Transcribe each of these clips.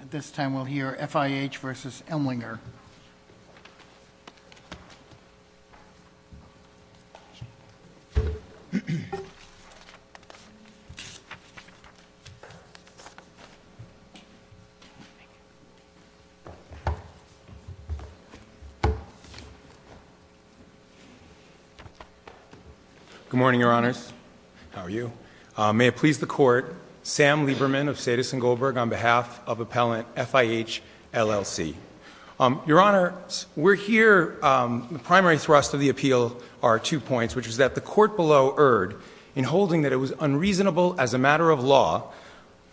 At this time, we'll hear FIH v. Emlinger. Good morning, Your Honors. How are you? May it please the Court, Sam Lieberman of Sedis and Goldberg on behalf of Appellant FIH, LLC. Your Honors, we're here, the primary thrust of the appeal are two points, which is that the Court below erred in holding that it was unreasonable as a matter of law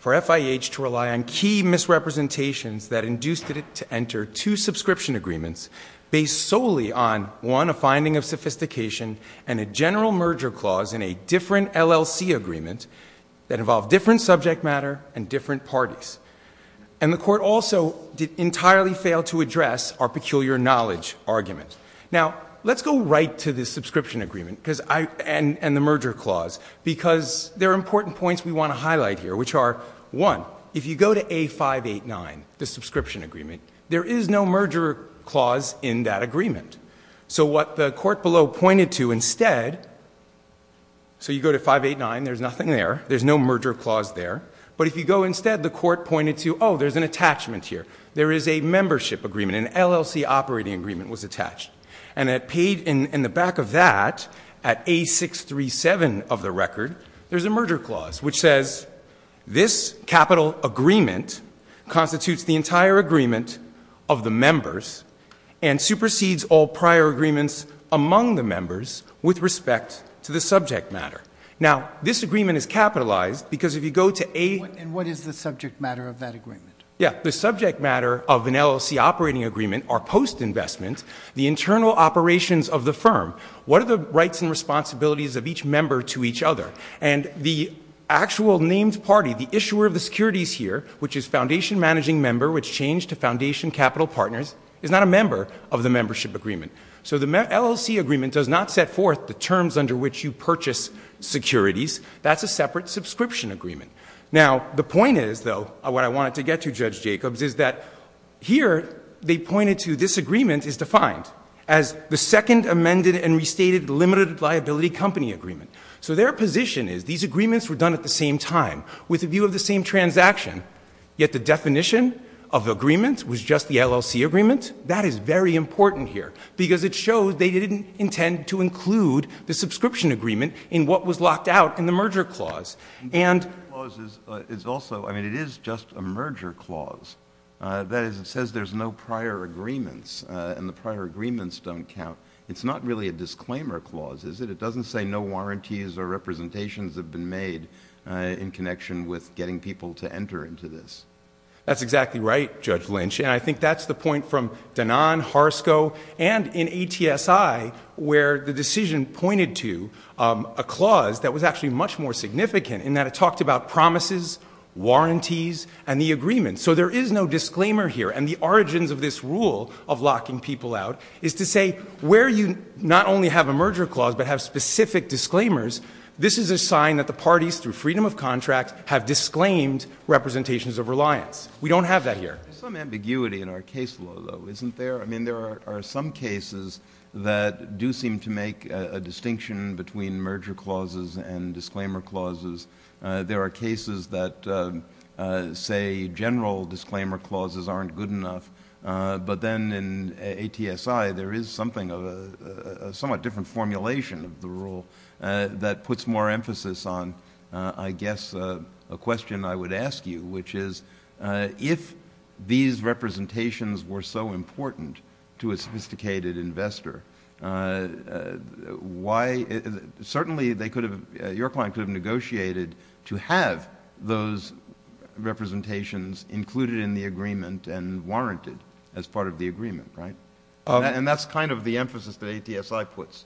for FIH to rely on key misrepresentations that induced it to enter two subscription agreements based solely on, one, a finding of sophistication and a general merger clause in a different LLC agreement. That involved different subject matter and different parties. And the Court also did entirely fail to address our peculiar knowledge argument. Now, let's go right to the subscription agreement and the merger clause because there are important points we want to highlight here, which are, one, if you go to A589, the subscription agreement, there is no merger clause in that agreement. So what the Court below pointed to instead, so you go to 589, there's nothing there. There's no merger clause there. But if you go instead, the Court pointed to, oh, there's an attachment here. There is a membership agreement. An LLC operating agreement was attached. And at page, in the back of that, at A637 of the record, there's a merger clause, which says, this capital agreement constitutes the entire agreement of the members and supersedes all prior agreements among the members with respect to the subject matter. Now, this agreement is capitalized because if you go to A. And what is the subject matter of that agreement? Yeah, the subject matter of an LLC operating agreement are post-investment, the internal operations of the firm. What are the rights and responsibilities of each member to each other? And the actual named party, the issuer of the securities here, which is foundation managing member, which changed to foundation capital partners, is not a member of the membership agreement. So the LLC agreement does not set forth the terms under which you purchase securities. That's a separate subscription agreement. Now, the point is, though, what I wanted to get to, Judge Jacobs, is that here, they pointed to this agreement is defined as the second amended and restated limited liability company agreement. So their position is these agreements were done at the same time with a view of the same transaction, yet the definition of the agreement was just the LLC agreement. That is very important here because it shows they didn't intend to include the subscription agreement in what was locked out in the merger clause. The merger clause is also, I mean, it is just a merger clause. That is, it says there's no prior agreements, and the prior agreements don't count. It's not really a disclaimer clause, is it? It doesn't say no warranties or representations have been made in connection with getting people to enter into this. That's exactly right, Judge Lynch. And I think that's the point from Danan, Harsco, and in ATSI, where the decision pointed to a clause that was actually much more significant in that it talked about promises, warranties, and the agreement. So there is no disclaimer here, and the origins of this rule of locking people out is to say where you not only have a merger clause but have specific disclaimers, this is a sign that the parties, through freedom of contract, have disclaimed representations of reliance. We don't have that here. There's some ambiguity in our case law, though, isn't there? I mean, there are some cases that do seem to make a distinction between merger clauses and disclaimer clauses. There are cases that say general disclaimer clauses aren't good enough. But then in ATSI, there is something of a somewhat different formulation of the rule that puts more emphasis on, I guess, a question I would ask you, which is if these representations were so important to a sophisticated investor, why— Your client could have negotiated to have those representations included in the agreement and warranted as part of the agreement, right? And that's kind of the emphasis that ATSI puts.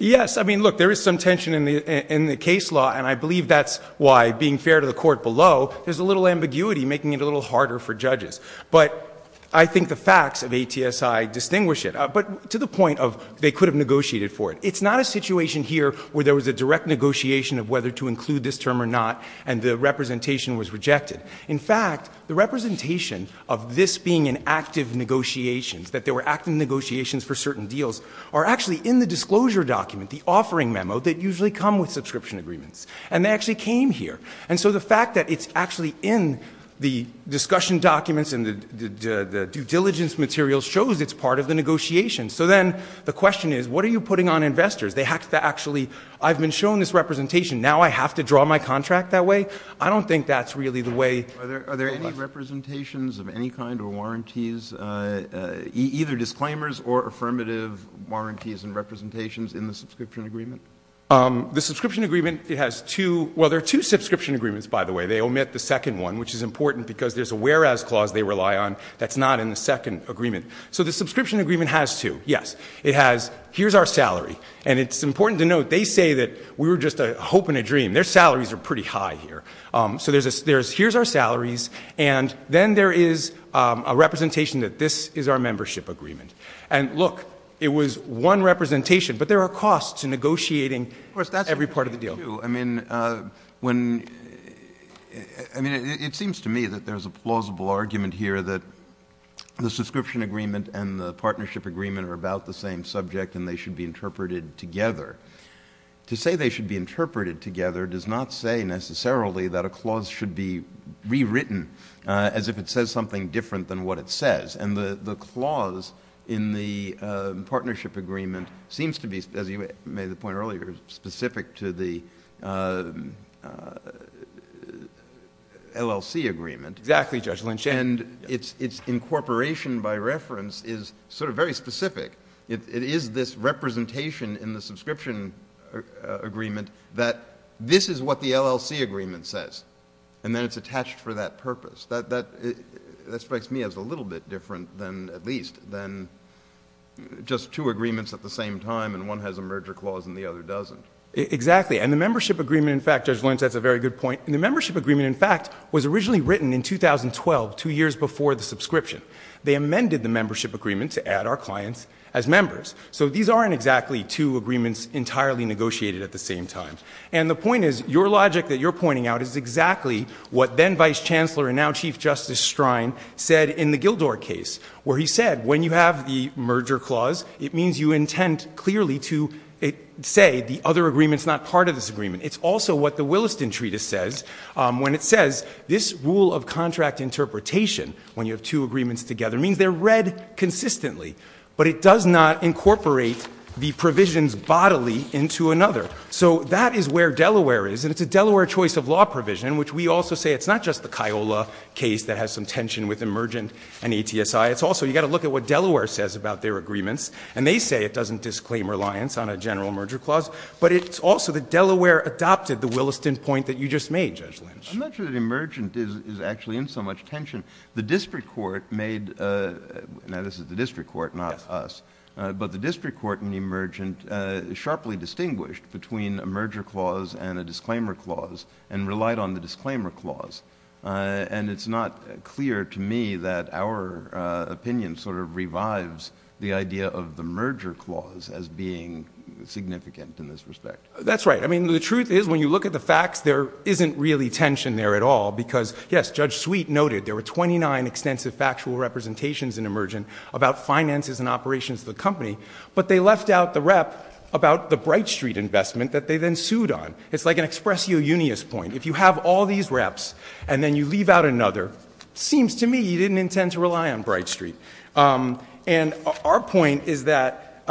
Yes. I mean, look, there is some tension in the case law, and I believe that's why, being fair to the court below, there's a little ambiguity making it a little harder for judges. But I think the facts of ATSI distinguish it, but to the point of they could have negotiated for it. It's not a situation here where there was a direct negotiation of whether to include this term or not, and the representation was rejected. In fact, the representation of this being in active negotiations, that there were active negotiations for certain deals, are actually in the disclosure document, the offering memo, that usually come with subscription agreements. And they actually came here. And so the fact that it's actually in the discussion documents and the due diligence material shows it's part of the negotiation. So then the question is, what are you putting on investors? They have to actually—I've been shown this representation. Now I have to draw my contract that way? I don't think that's really the way— Are there any representations of any kind or warranties, either disclaimers or affirmative warranties and representations in the subscription agreement? The subscription agreement has two—well, there are two subscription agreements, by the way. They omit the second one, which is important because there's a whereas clause they rely on that's not in the second agreement. So the subscription agreement has two, yes. It has, here's our salary, and it's important to note they say that we were just hoping a dream. Their salaries are pretty high here. So there's a—here's our salaries, and then there is a representation that this is our membership agreement. And look, it was one representation, but there are costs in negotiating every part of the deal. I do, too. I mean, when—I mean, it seems to me that there's a plausible argument here that the subscription agreement and the partnership agreement are about the same subject and they should be interpreted together. To say they should be interpreted together does not say necessarily that a clause should be rewritten as if it says something different than what it says. And the clause in the partnership agreement seems to be, as you made the point earlier, specific to the LLC agreement. Exactly, Judge Lynch. And its incorporation by reference is sort of very specific. It is this representation in the subscription agreement that this is what the LLC agreement says, and then it's attached for that purpose. That strikes me as a little bit different than, at least, than just two agreements at the same time and one has a merger clause and the other doesn't. Exactly. And the membership agreement, in fact—Judge Lynch, that's a very good point. The membership agreement, in fact, was originally written in 2012, two years before the subscription. They amended the membership agreement to add our clients as members. So these aren't exactly two agreements entirely negotiated at the same time. And the point is, your logic that you're pointing out is exactly what then-Vice Chancellor and now Chief Justice Strine said in the Gildor case, where he said, when you have the merger clause, it means you intend clearly to say the other agreement's not part of this agreement. It's also what the Williston Treatise says when it says this rule of contract interpretation, when you have two agreements together, means they're read consistently. But it does not incorporate the provisions bodily into another. So that is where Delaware is. And it's a Delaware choice of law provision in which we also say it's not just the Kiola case that has some tension with emergent and ATSI. It's also, you've got to look at what Delaware says about their agreements. And they say it doesn't disclaim reliance on a general merger clause. But it's also that Delaware adopted the Williston point that you just made, Judge Lynch. I'm not sure that emergent is actually in so much tension. The district court made, now this is the district court, not us. But the district court in emergent sharply distinguished between a merger clause and a disclaimer clause and relied on the disclaimer clause. And it's not clear to me that our opinion sort of revives the idea of the merger clause as being significant in this respect. That's right. I mean, the truth is when you look at the facts, there isn't really tension there at all. Because, yes, Judge Sweet noted there were 29 extensive factual representations in emergent about finances and operations of the company. But they left out the rep about the Bright Street investment that they then sued on. It's like an expressio unius point. If you have all these reps and then you leave out another, seems to me you didn't intend to rely on Bright Street. And our point is that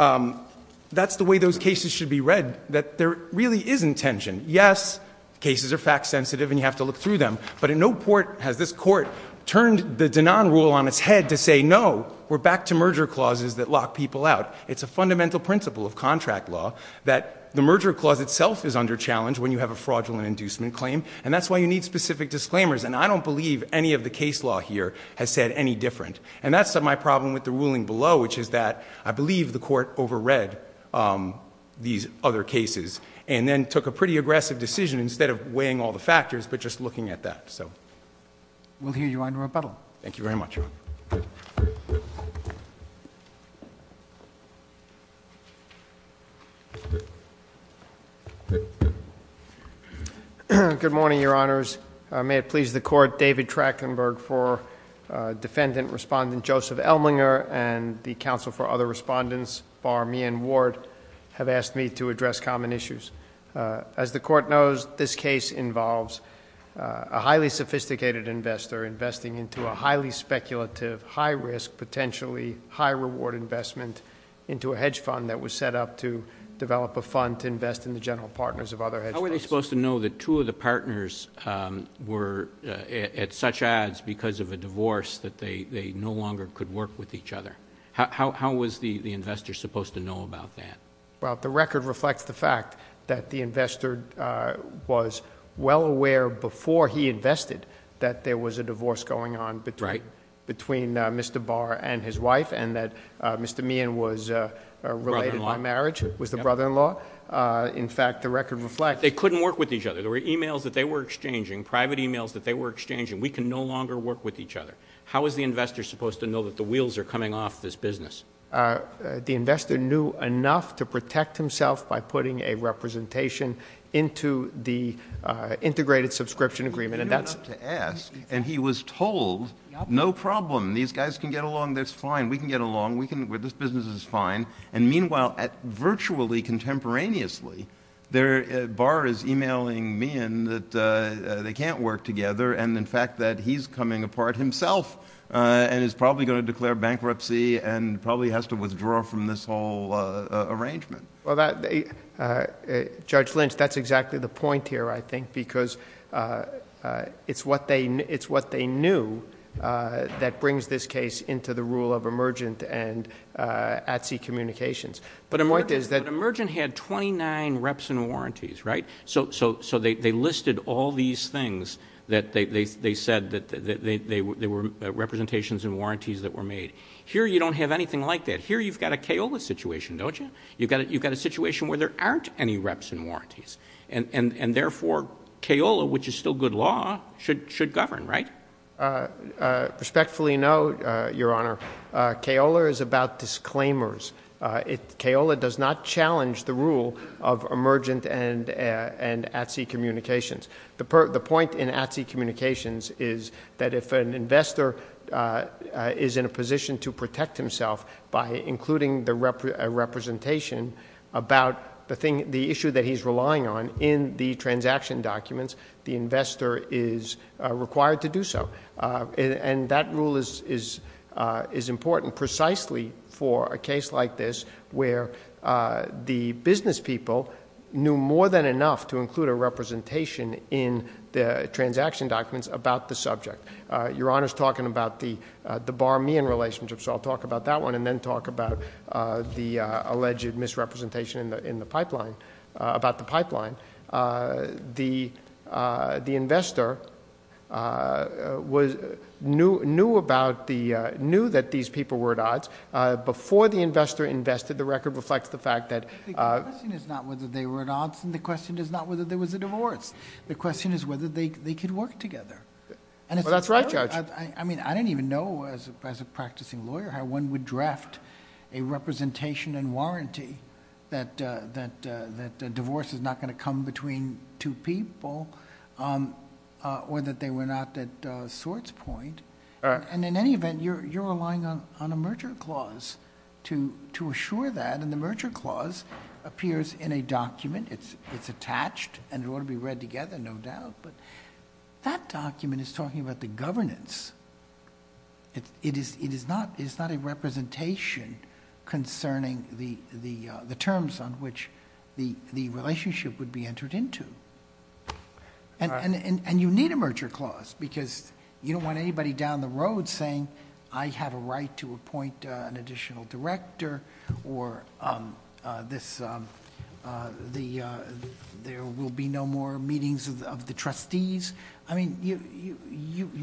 that's the way those cases should be read, that there really isn't tension. Yes, cases are fact sensitive and you have to look through them. But in no court has this court turned the Dinan rule on its head to say, no, we're back to merger clauses that lock people out. It's a fundamental principle of contract law that the merger clause itself is under challenge when you have a fraudulent inducement claim. And that's why you need specific disclaimers. And I don't believe any of the case law here has said any different. And that's my problem with the ruling below, which is that I believe the court over read these other cases. And then took a pretty aggressive decision instead of weighing all the factors, but just looking at that, so. We'll hear you in rebuttal. Thank you very much. Good morning, your honors. May it please the court, David Trachtenberg for defendant respondent Joseph Elminger and the counsel for other respondents Bar Mian Ward have asked me to address common issues. As the court knows, this case involves a highly sophisticated investor investing into a highly speculative, high risk, potentially high reward investment into a hedge fund that was set up to develop a fund to invest in the general partners of other hedge funds. How are they supposed to know that two of the partners were at such odds because of a divorce that they no longer could work with each other? How was the investor supposed to know about that? Well, the record reflects the fact that the investor was well aware before he invested that there was a divorce going on between Mr. Barr and his wife and that Mr. Mian was related by marriage, was the brother-in-law. In fact, the record reflects they couldn't work with each other. There were e-mails that they were exchanging, private e-mails that they were exchanging. We can no longer work with each other. How is the investor supposed to know that the wheels are coming off this business? The investor knew enough to protect himself by putting a representation into the integrated subscription agreement. And that's to ask. And he was told, no problem. These guys can get along. That's fine. We can get along. We can where this business is fine. And meanwhile, virtually contemporaneously, Barr is e-mailing Mian that they can't work together. And, in fact, that he's coming apart himself and is probably going to declare bankruptcy and probably has to withdraw from this whole arrangement. Well, Judge Lynch, that's exactly the point here, I think. Because it's what they knew that brings this case into the rule of emergent and at-sea communications. But the point is that... But emergent had twenty-nine reps and warranties, right? So they listed all these things that they said that there were representations and warranties that were made. Here, you don't have anything like that. Here, you've got a kaola situation, don't you? You've got a situation where there aren't any reps and warranties. And, therefore, kaola, which is still good law, should govern, right? Respectfully note, Your Honor, kaola is about disclaimers. Kaola does not challenge the rule of emergent and at-sea communications. The point in at-sea communications is that if an investor is in a position to protect himself by including a representation about the issue that he's relying on in the transaction documents, the investor is required to do so. And that rule is important precisely for a case like this where the business people knew more than enough to include a representation in the transaction documents about the subject. Your Honor's talking about the Bar-Mian relationship, so I'll talk about that one and then talk about the alleged misrepresentation in the pipeline... about the pipeline. The investor knew that these people were at odds. Before the investor invested, the record reflects the fact that... The question is not whether they were at odds, and the question is not whether there was a divorce. The question is whether they could work together. Well, that's right, Judge. I mean, I didn't even know as a practicing lawyer how one would draft a representation and warranty that a divorce is not going to come between two people or that they were not at sorts point. And in any event, you're relying on a merger clause to assure that, and the merger clause appears in a document. It's attached, and it ought to be read together, no doubt, but that document is talking about the governance. It is not a representation concerning the terms on which the relationship would be entered into. And you need a merger clause, because you don't want anybody down the road saying, I have a right to appoint an additional director, or there will be no more meetings of the trustees. I mean, you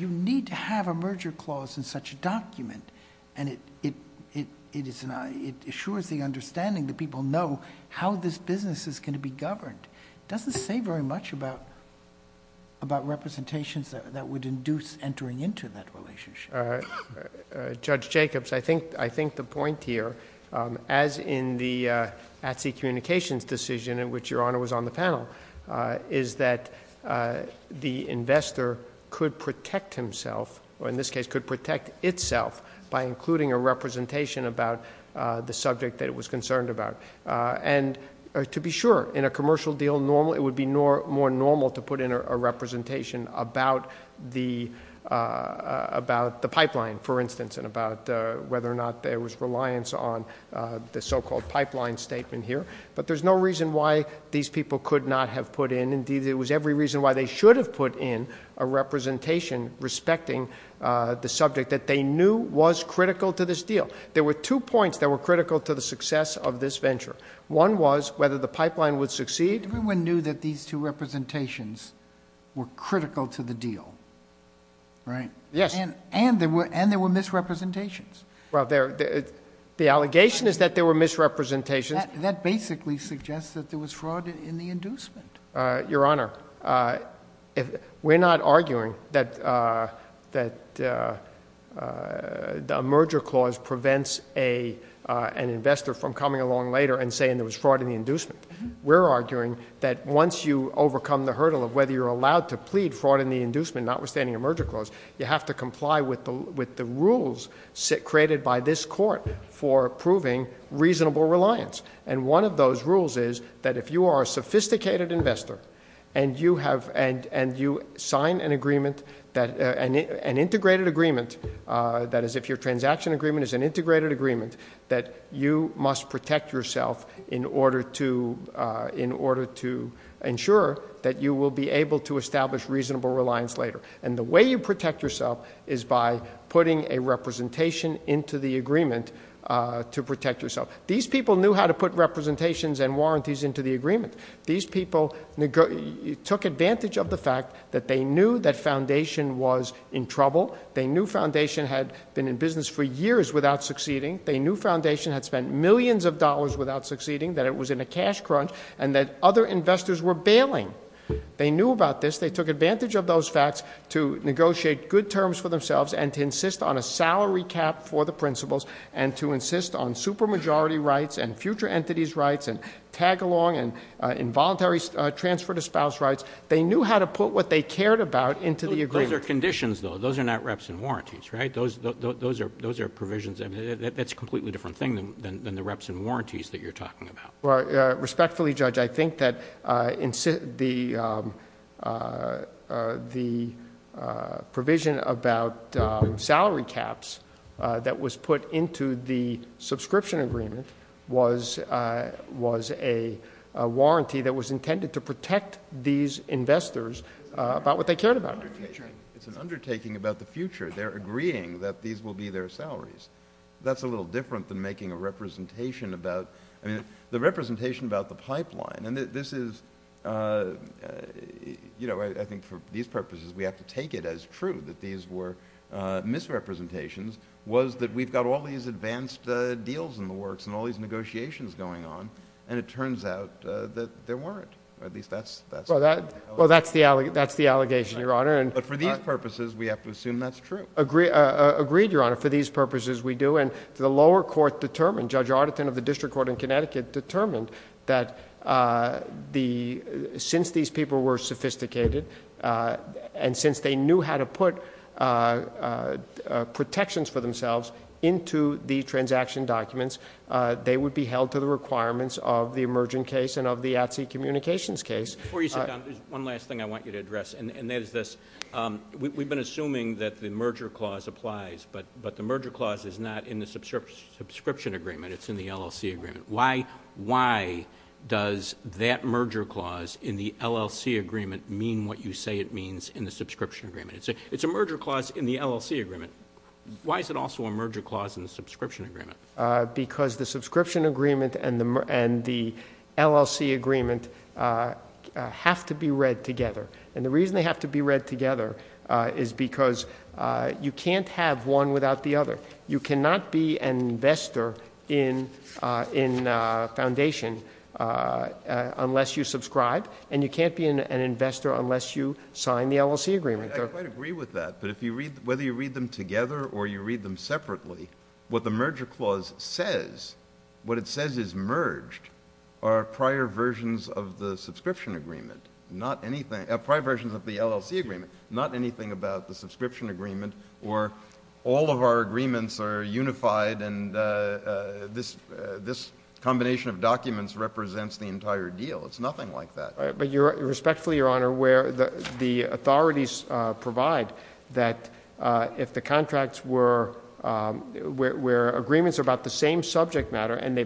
need to have a merger clause in such a document, and it assures the understanding that people know how this business is going to be governed. It doesn't say very much about representations that would induce entering into that relationship. Judge Jacobs, I think the point here, as in the ATSI communications decision in which Your Honor was on the panel, is that the investor could protect himself, or in this case could protect itself, by including a representation about the subject that it was concerned about. And to be sure, in a commercial deal, it would be more normal to put in a representation about the pipeline, for instance, and about whether or not there was reliance on the so-called pipeline statement here. But there's no reason why these people could not have put in, indeed there was every reason why they should have put in, a representation respecting the subject that they knew was critical to this deal. There were two points that were critical to the success of this venture. One was whether the pipeline would succeed. Everyone knew that these two representations were critical to the deal, right? Yes. And there were misrepresentations. Well, the allegation is that there were misrepresentations. That basically suggests that there was fraud in the inducement. Your Honor, we're not arguing that a merger clause prevents an investor from coming along later and saying there was fraud in the inducement. We're arguing that once you overcome the hurdle of whether you're allowed to plead fraud in the inducement, notwithstanding a merger clause, you have to comply with the rules created by this Court for proving reasonable reliance. And one of those rules is that if you are a sophisticated investor and you sign an agreement, an integrated agreement, that is if your transaction agreement is an integrated agreement, that you must protect yourself in order to ensure that you will be able to establish reasonable reliance later. And the way you protect yourself is by putting a representation into the agreement to protect yourself. These people knew how to put representations and warranties into the agreement. These people took advantage of the fact that they knew that Foundation was in trouble. They knew Foundation had been in business for years without succeeding. They knew Foundation had spent millions of dollars without succeeding, that it was in a cash crunch, and that other investors were bailing. They knew about this. They took advantage of those facts to negotiate good terms for themselves and to insist on a salary cap for the principals and to insist on supermajority rights and future entities' rights and tag-along and involuntary transfer to spouse rights. They knew how to put what they cared about into the agreement. Those are conditions, though. Those are not reps and warranties, right? Those are provisions. That's a completely different thing than the reps and warranties that you're talking about. Respectfully, Judge, I think that the provision about salary caps that was put into the subscription agreement was a warranty that was intended to protect these investors about what they cared about. It's an undertaking about the future. They're agreeing that these will be their salaries. That's a little different than making a representation about the pipeline. I think for these purposes, we have to take it as true that these were misrepresentations, was that we've got all these advanced deals in the works and all these negotiations going on, and it turns out that there weren't. Well, that's the allegation, Your Honor. But for these purposes, we have to assume that's true. Agreed, Your Honor. For these purposes, we do. And the lower court determined, Judge Arditan of the District Court in Connecticut, determined that since these people were sophisticated and since they knew how to put protections for themselves into the transaction documents, they would be held to the requirements of the emerging case and of the ATSI communications case. Before you sit down, there's one last thing I want you to address, and that is this. We've been assuming that the merger clause applies, but the merger clause is not in the subscription agreement. It's in the LLC agreement. Why does that merger clause in the LLC agreement mean what you say it means in the subscription agreement? It's a merger clause in the LLC agreement. Why is it also a merger clause in the subscription agreement? Because the subscription agreement and the LLC agreement have to be read together, and the reason they have to be read together is because you can't have one without the other. You cannot be an investor in a foundation unless you subscribe, and you can't be an investor unless you sign the LLC agreement. I quite agree with that, but whether you read them together or you read them separately, what the merger clause says, what it says is merged, are prior versions of the subscription agreement, not anything, prior versions of the LLC agreement, not anything about the subscription agreement or all of our agreements are unified and this combination of documents represents the entire deal. It's nothing like that. But respectfully, Your Honor, where the authorities provide that if the contracts were, where agreements are about the same subject matter and they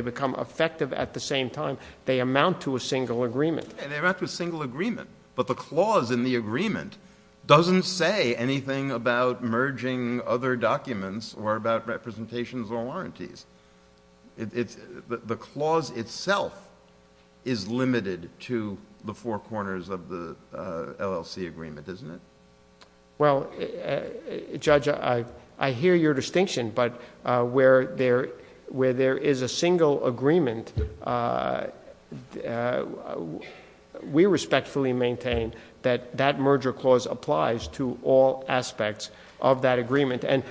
become effective at the same time, they amount to a single agreement. They amount to a single agreement, but the clause in the agreement doesn't say anything about merging other documents or about representations or warranties. The clause itself is limited to the four corners of the LLC agreement, isn't it? Well, Judge, I hear your distinction, but where there is a single agreement, we respectfully maintain that that merger clause applies to all aspects of that agreement. And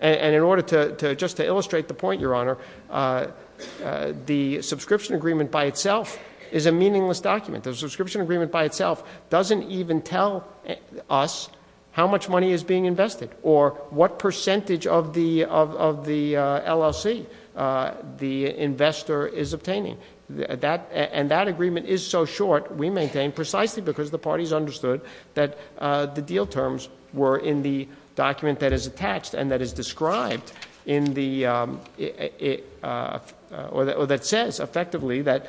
in order to just illustrate the point, Your Honor, the subscription agreement by itself is a meaningless document. The subscription agreement by itself doesn't even tell us how much money is being invested or what percentage of the LLC the investor is obtaining. And that agreement is so short, we maintain precisely because the parties understood that the deal terms were in the document that is attached and that is described in the, or that says effectively that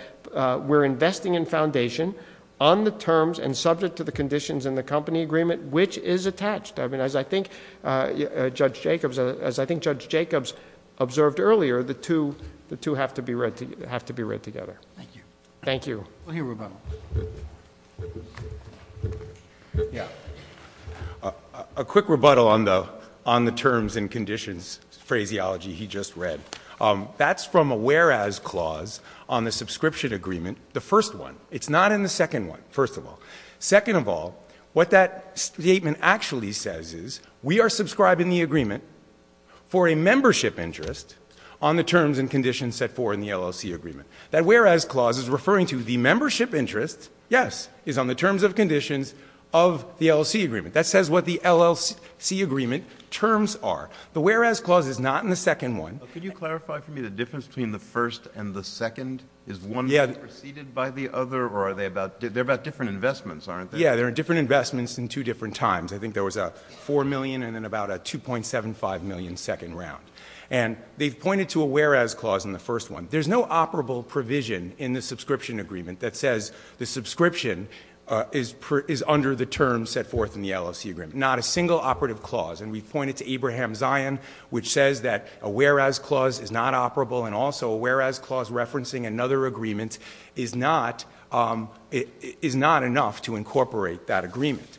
we're investing in foundation on the terms and subject to the conditions in the company agreement which is attached. I mean, as I think Judge Jacobs observed earlier, the two have to be read together. Thank you. Thank you. A quick rebuttal. Yeah. A quick rebuttal on the terms and conditions phraseology he just read. That's from a whereas clause on the subscription agreement, the first one. It's not in the second one, first of all. Second of all, what that statement actually says is we are subscribing the agreement for a membership interest on the terms and conditions set forth in the LLC agreement. That whereas clause is referring to the membership interest, yes, is on the terms and conditions of the LLC agreement. That says what the LLC agreement terms are. The whereas clause is not in the second one. Could you clarify for me the difference between the first and the second? Is one preceded by the other or are they about, they're about different investments, aren't they? Yeah, they're different investments in two different times. I think there was a $4 million and then about a $2.75 million second round. And they've pointed to a whereas clause in the first one. There's no operable provision in the subscription agreement that says the subscription is under the terms set forth in the LLC agreement. Not a single operative clause. And we've pointed to Abraham Zion, which says that a whereas clause is not operable and also a whereas clause referencing another agreement is not enough to incorporate that agreement.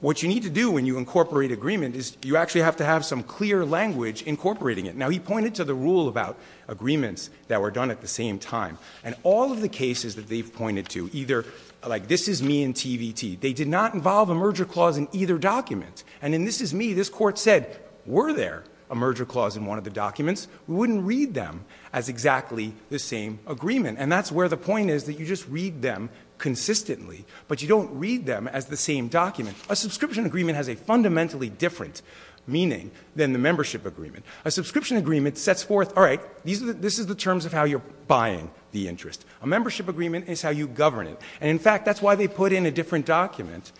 What you need to do when you incorporate agreement is you actually have to have some clear language incorporating it. Now, he pointed to the rule about agreements that were done at the same time. And all of the cases that they've pointed to, either like this is me in TVT. They did not involve a merger clause in either document. And in this is me, this court said, were there a merger clause in one of the documents? We wouldn't read them as exactly the same agreement. And that's where the point is that you just read them consistently. But you don't read them as the same document. A subscription agreement has a fundamentally different meaning than the membership agreement. A subscription agreement sets forth, all right, this is the terms of how you're buying the interest. A membership agreement is how you govern it. And, in fact, that's why they put in a different document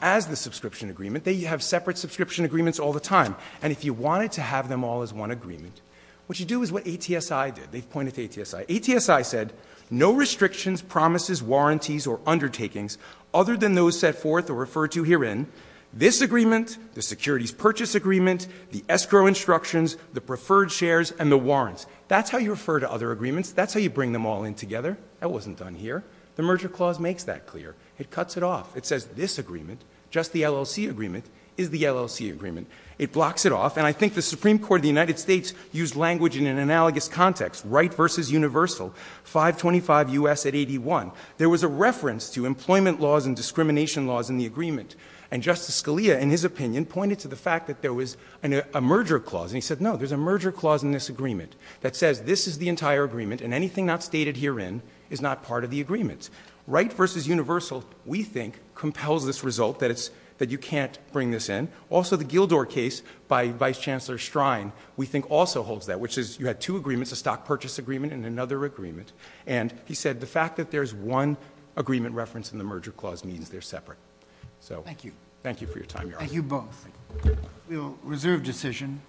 as the subscription agreement. They have separate subscription agreements all the time. And if you wanted to have them all as one agreement, what you do is what ATSI did. They've pointed to ATSI. ATSI said, no restrictions, promises, warranties, or undertakings other than those set forth or referred to herein. This agreement, the securities purchase agreement, the escrow instructions, the preferred shares, and the warrants. That's how you refer to other agreements. That's how you bring them all in together. That wasn't done here. The merger clause makes that clear. It cuts it off. It says this agreement, just the LLC agreement, is the LLC agreement. It blocks it off. And I think the Supreme Court of the United States used language in an analogous context, right versus universal, 525 U.S. at 81. There was a reference to employment laws and discrimination laws in the agreement. And Justice Scalia, in his opinion, pointed to the fact that there was a merger clause. And he said, no, there's a merger clause in this agreement that says this is the entire agreement and anything not stated herein is not part of the agreement. Right versus universal, we think, compels this result that you can't bring this in. Also, the Gildor case by Vice Chancellor Strine, we think, also holds that, which is you had two agreements, a stock purchase agreement and another agreement. And he said the fact that there's one agreement reference in the merger clause means they're separate. Thank you. Thank you for your time, Your Honor. Thank you both. We'll reserve decision.